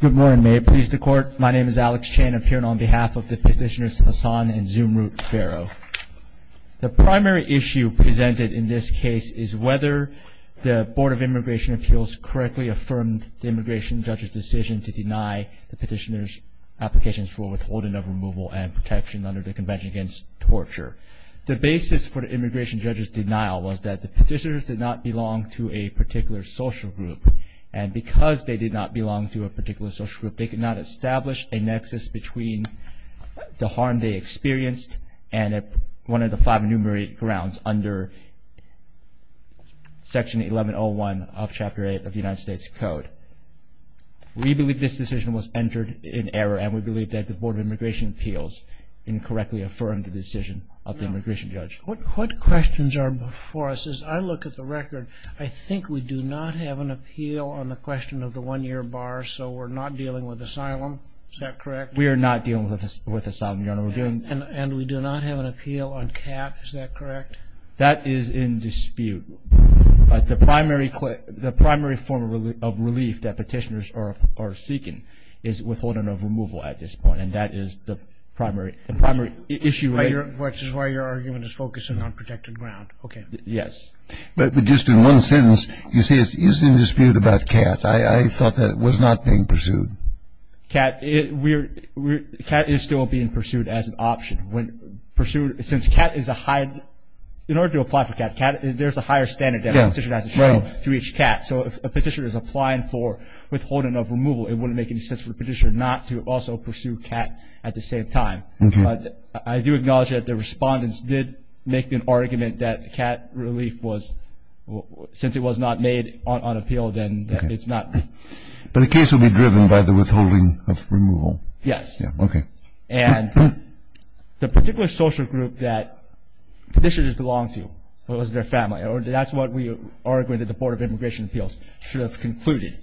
Good morning. May it please the Court. My name is Alex Chen. I'm here on behalf of the Petitioners Hassan and Zumrud Fero. The primary issue presented in this case is whether the Board of Immigration Appeals correctly affirmed the immigration judge's decision to deny the petitioners' applications for withholding of removal and protection under the Convention Against Torture. The basis for the immigration judge's denial was that the petitioners did not belong to a particular social group, and because they did not belong to a particular social group, they could not establish a nexus between the harm they experienced and one of the five enumerated grounds under Section 1101 of Chapter 8 of the United States Code. We believe this decision was entered in error, and we believe that the Board of Immigration Appeals incorrectly affirmed the decision of the immigration judge. What questions are before us? As I look at the record, I think we do not have an appeal on the question of the one-year bar, so we're not dealing with asylum. Is that correct? We are not dealing with asylum, Your Honor. And we do not have an appeal on CAT. Is that correct? That is in dispute. The primary form of relief that petitioners are seeking is withholding of removal at this point, and that is the primary issue. Which is why your argument is focusing on protected ground. Okay. Yes. But just in one sentence, you say it is in dispute about CAT. I thought that it was not being pursued. CAT is still being pursued as an option. Since CAT is a high – in order to apply for CAT, there's a higher standard that a petitioner has to show to each CAT. So if a petitioner is applying for withholding of removal, it wouldn't make any sense for the petitioner not to also pursue CAT at the same time. But I do acknowledge that the respondents did make an argument that CAT relief was – since it was not made on appeal, then it's not – But the case will be driven by the withholding of removal. Yes. Okay. And the particular social group that petitioners belong to was their family. That's what we argue that the Board of Immigration Appeals should have concluded.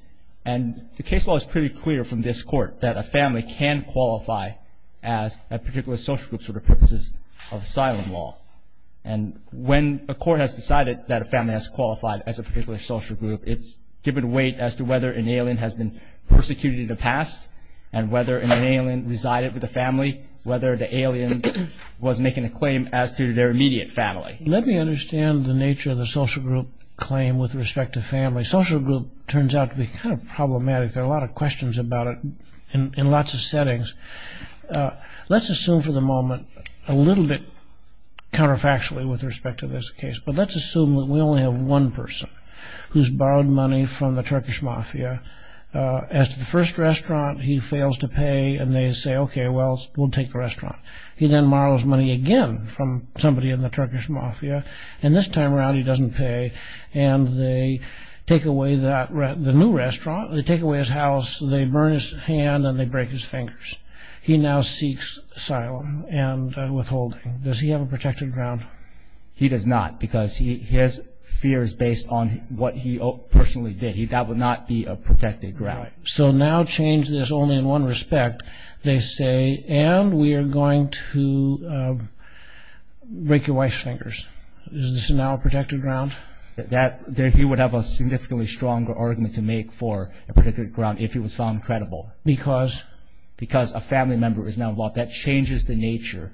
And the case law is pretty clear from this court that a family can qualify as a particular social group for the purposes of asylum law. And when a court has decided that a family has qualified as a particular social group, it's given weight as to whether an alien has been persecuted in the past and whether an alien resided with the family, whether the alien was making a claim as to their immediate family. Let me understand the nature of the social group claim with respect to family. Social group turns out to be kind of problematic. There are a lot of questions about it in lots of settings. Let's assume for the moment, a little bit counterfactually with respect to this case, but let's assume that we only have one person who's borrowed money from the Turkish mafia. As to the first restaurant, he fails to pay, and they say, okay, well, we'll take the restaurant. He then borrows money again from somebody in the Turkish mafia, and this time around he doesn't pay, and they take away that – the new restaurant, they take away his house, they burn his hand, and they break his fingers. He now seeks asylum and withholding. Does he have a protected ground? He does not because his fear is based on what he personally did. That would not be a protected ground. So now change this only in one respect. They say, and we are going to break your wife's fingers. Is this now a protected ground? He would have a significantly stronger argument to make for a protected ground if he was found credible. Because? Because a family member is now involved. That changes the nature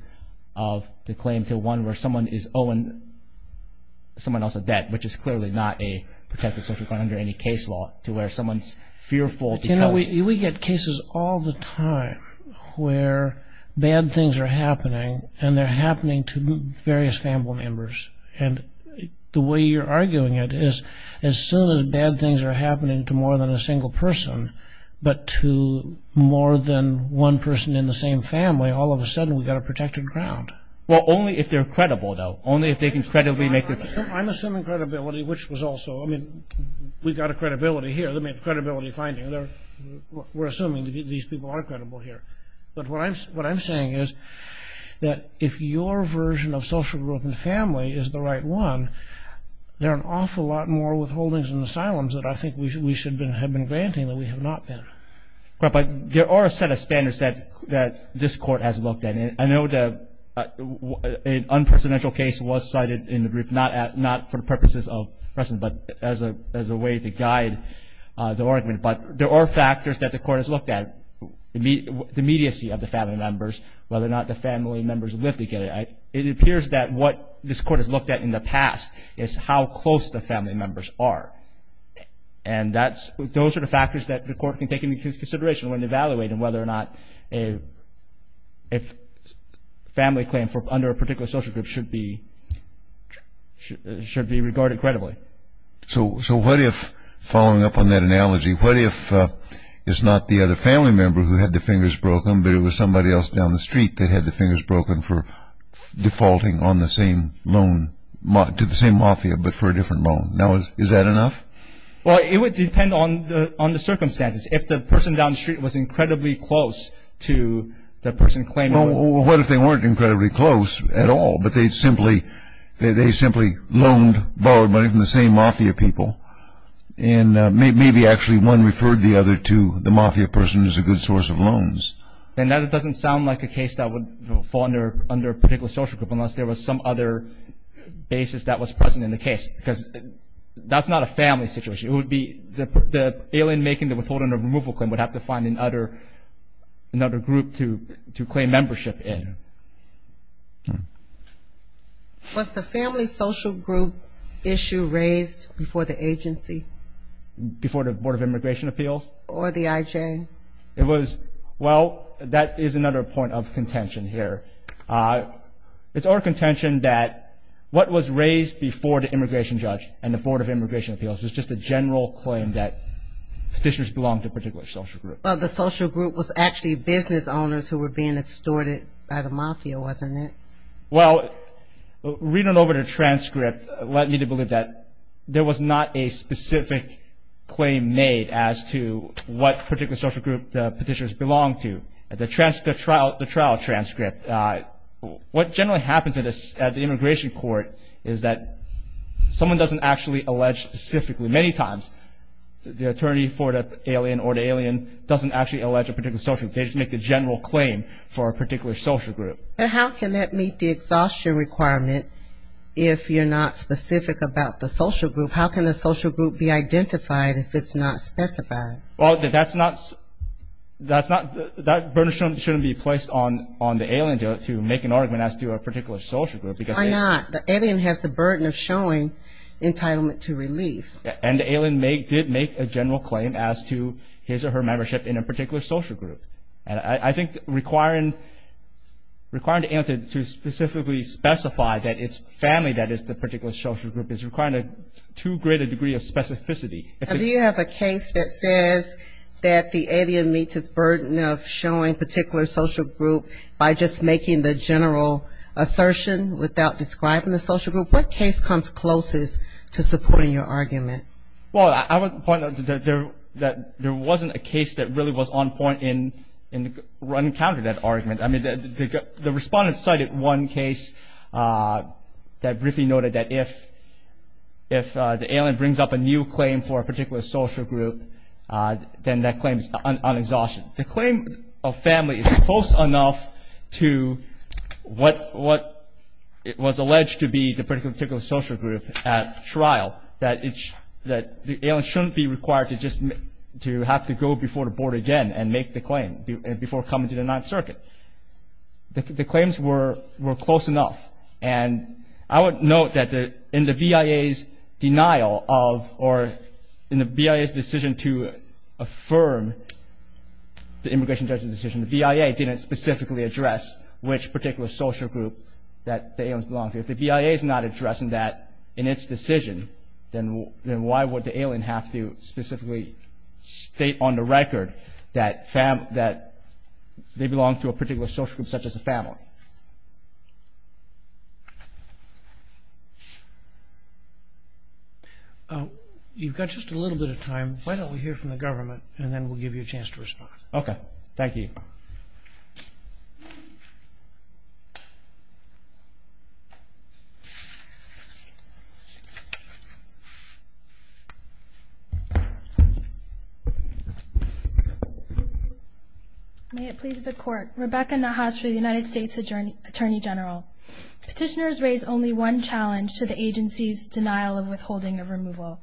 of the claim to one where someone is owing someone else a debt, which is clearly not a protected social ground under any case law, to where someone's fearful. You know, we get cases all the time where bad things are happening, and they're happening to various family members. And the way you're arguing it is as soon as bad things are happening to more than a single person, but to more than one person in the same family, all of a sudden we've got a protected ground. Well, only if they're credible, though. Only if they can credibly make their case. I'm assuming credibility, which was also, I mean, we've got a credibility here. I mean, credibility finding. We're assuming these people are credible here. But what I'm saying is that if your version of social group and family is the right one, there are an awful lot more withholdings and asylums that I think we should have been granting than we have not been. But there are a set of standards that this Court has looked at. And I know an unpresidential case was cited in the brief, not for purposes of precedent, but as a way to guide the argument. But there are factors that the Court has looked at, the immediacy of the family members, whether or not the family members lived together. It appears that what this Court has looked at in the past is how close the family members are. And those are the factors that the Court can take into consideration when evaluating whether or not a family claim under a particular social group should be regarded credibly. So what if, following up on that analogy, what if it's not the other family member who had the fingers broken, but it was somebody else down the street that had the fingers broken for defaulting on the same loan to the same mafia but for a different loan? Now, is that enough? Well, it would depend on the circumstances. If the person down the street was incredibly close to the person claiming it. Well, what if they weren't incredibly close at all, but they simply loaned, borrowed money from the same mafia people, and maybe actually one referred the other to the mafia person as a good source of loans? Then that doesn't sound like a case that would fall under a particular social group unless there was some other basis that was present in the case. Because that's not a family situation. It would be the alien making the withholding of removal claim would have to find another group to claim membership in. Was the family social group issue raised before the agency? Before the Board of Immigration Appeals? Or the IJ? Well, that is another point of contention here. It's our contention that what was raised before the immigration judge and the Board of Immigration Appeals was just a general claim that petitioners belonged to a particular social group. Well, the social group was actually business owners who were being extorted by the mafia, wasn't it? Well, reading over the transcript led me to believe that there was not a specific claim made as to what particular social group the petitioners belonged to. The trial transcript. What generally happens at the immigration court is that someone doesn't actually allege specifically. Many times the attorney for the alien or the alien doesn't actually allege a particular social group. They just make a general claim for a particular social group. But how can that meet the exhaustion requirement if you're not specific about the social group? How can the social group be identified if it's not specified? Well, that's not, that's not, that burden shouldn't be placed on the alien to make an argument as to a particular social group. Why not? The alien has the burden of showing entitlement to relief. And the alien did make a general claim as to his or her membership in a particular social group. And I think requiring the alien to specifically specify that it's family that is the particular social group is requiring a two-graded degree of specificity. Do you have a case that says that the alien meets its burden of showing particular social group by just making the general assertion without describing the social group? What case comes closest to supporting your argument? Well, I would point out that there wasn't a case that really was on point in running counter to that argument. I mean, the respondents cited one case that briefly noted that if the alien brings up a new claim for a particular social group, then that claim is unexhausted. The claim of family is close enough to what was alleged to be the particular social group at trial, that the alien shouldn't be required to just have to go before the board again and make the claim before coming to the Ninth Circuit. The claims were close enough. And I would note that in the BIA's denial of or in the BIA's decision to affirm the immigration judge's decision, the BIA didn't specifically address which particular social group that the aliens belong to. If the BIA is not addressing that in its decision, then why would the alien have to specifically state on the record that they belong to a particular social group such as a family? You've got just a little bit of time. Why don't we hear from the government, and then we'll give you a chance to respond. Okay. Thank you. May it please the Court. Rebecca Nahas for the United States Attorney General. Petitioners raise only one challenge to the agency's denial of withholding of removal.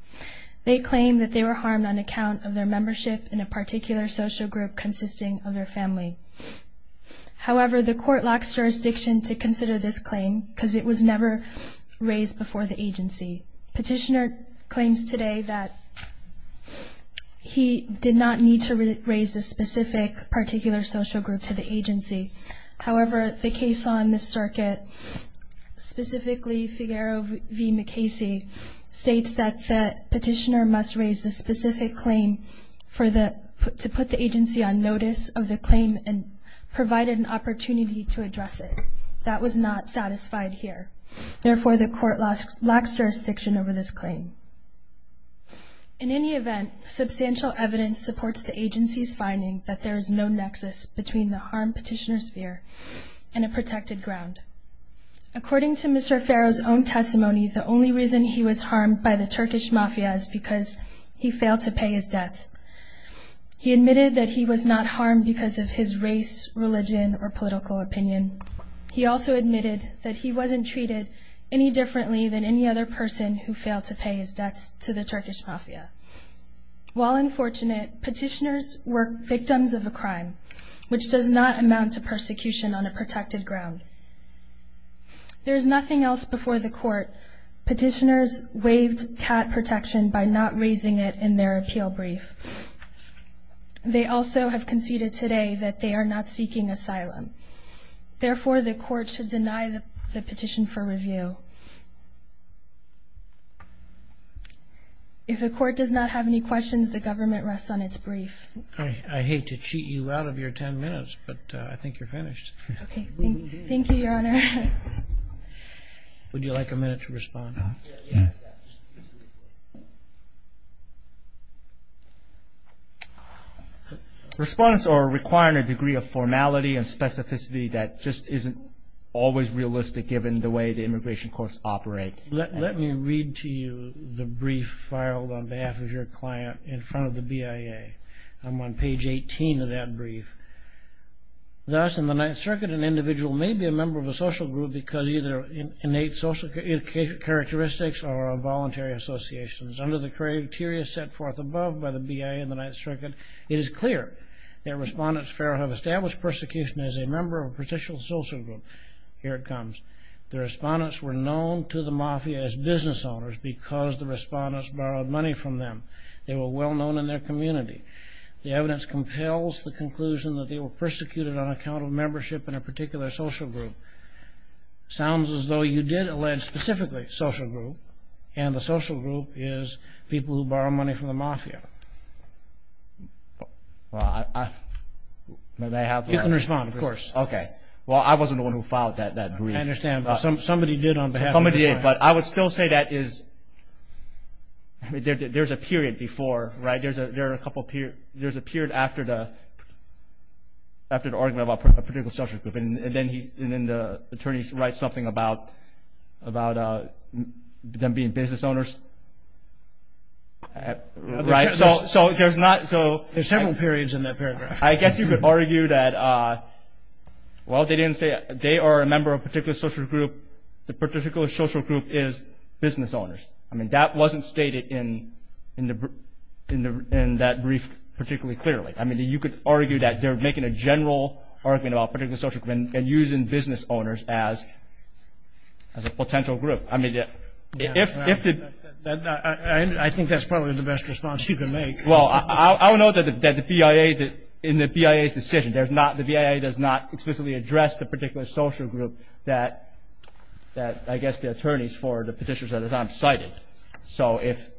They claim that they were harmed on account of their membership in a particular social group consisting of their family. However, the Court locks jurisdiction to consider this claim because it was never raised before the agency. Petitioner claims today that he did not need to raise a specific particular social group to the agency. However, the case on this circuit, specifically Figuero v. McKasey, states that the petitioner must raise a specific claim to put the agency on notice of the claim and provide an opportunity to address it. That was not satisfied here. Therefore, the Court locks jurisdiction over this claim. In any event, substantial evidence supports the agency's finding that there is no nexus between the harm petitioners fear and a protected ground. According to Mr. Farrow's own testimony, the only reason he was harmed by the Turkish Mafia is because he failed to pay his debts. He admitted that he was not harmed because of his race, religion, or political opinion. He also admitted that he wasn't treated any differently than any other person who failed to pay his debts to the Turkish Mafia. While unfortunate, petitioners were victims of a crime, which does not amount to persecution on a protected ground. There is nothing else before the Court. Petitioners waived CAT protection by not raising it in their appeal brief. They also have conceded today that they are not seeking asylum. Therefore, the Court should deny the petition for review. If the Court does not have any questions, the government rests on its brief. I hate to cheat you out of your ten minutes, but I think you're finished. Okay. Thank you, Your Honor. Would you like a minute to respond? Respondents are requiring a degree of formality and specificity that just isn't always realistic given the way the immigration courts operate. Let me read to you the brief filed on behalf of your client in front of the BIA. I'm on page 18 of that brief. Thus, in the Ninth Circuit, an individual may be a member of a social group because of either innate social characteristics or involuntary associations. Under the criteria set forth above by the BIA in the Ninth Circuit, it is clear that Respondents Fair have established persecution as a member of a partitional social group. Here it comes. The Respondents were known to the Mafia as business owners because the Respondents borrowed money from them. They were well known in their community. The evidence compels the conclusion that they were persecuted on account of membership in a particular social group. It sounds as though you did allege specifically social group, and the social group is people who borrow money from the Mafia. Well, I... You can respond, of course. Okay. Well, I wasn't the one who filed that brief. I understand. Somebody did on behalf of the Mafia. Somebody did, but I would still say that there's a period before, right? There's a period after the argument about a particular social group, and then the attorneys write something about them being business owners. Right? So there's not... There's several periods in that paragraph. I guess you could argue that, well, they didn't say they are a member of a particular social group. The particular social group is business owners. I mean, that wasn't stated in that brief particularly clearly. I mean, you could argue that they're making a general argument about a particular social group and using business owners as a potential group. I mean, if the... I think that's probably the best response you can make. Well, I'll note that the BIA, in the BIA's decision, the BIA does not explicitly address the particular social group that, I guess, the attorneys for the petitions at the time cited. So if...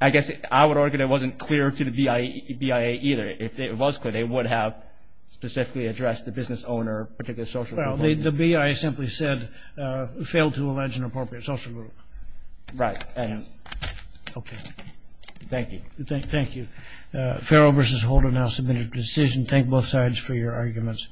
I guess I would argue that it wasn't clear to the BIA either. If it was clear, they would have specifically addressed the business owner, particular social group. Well, the BIA simply said, failed to allege an appropriate social group. Right. Okay. Thank you. Thank you. Farrell v. Holden, I'll submit a decision. Thank both sides for your arguments.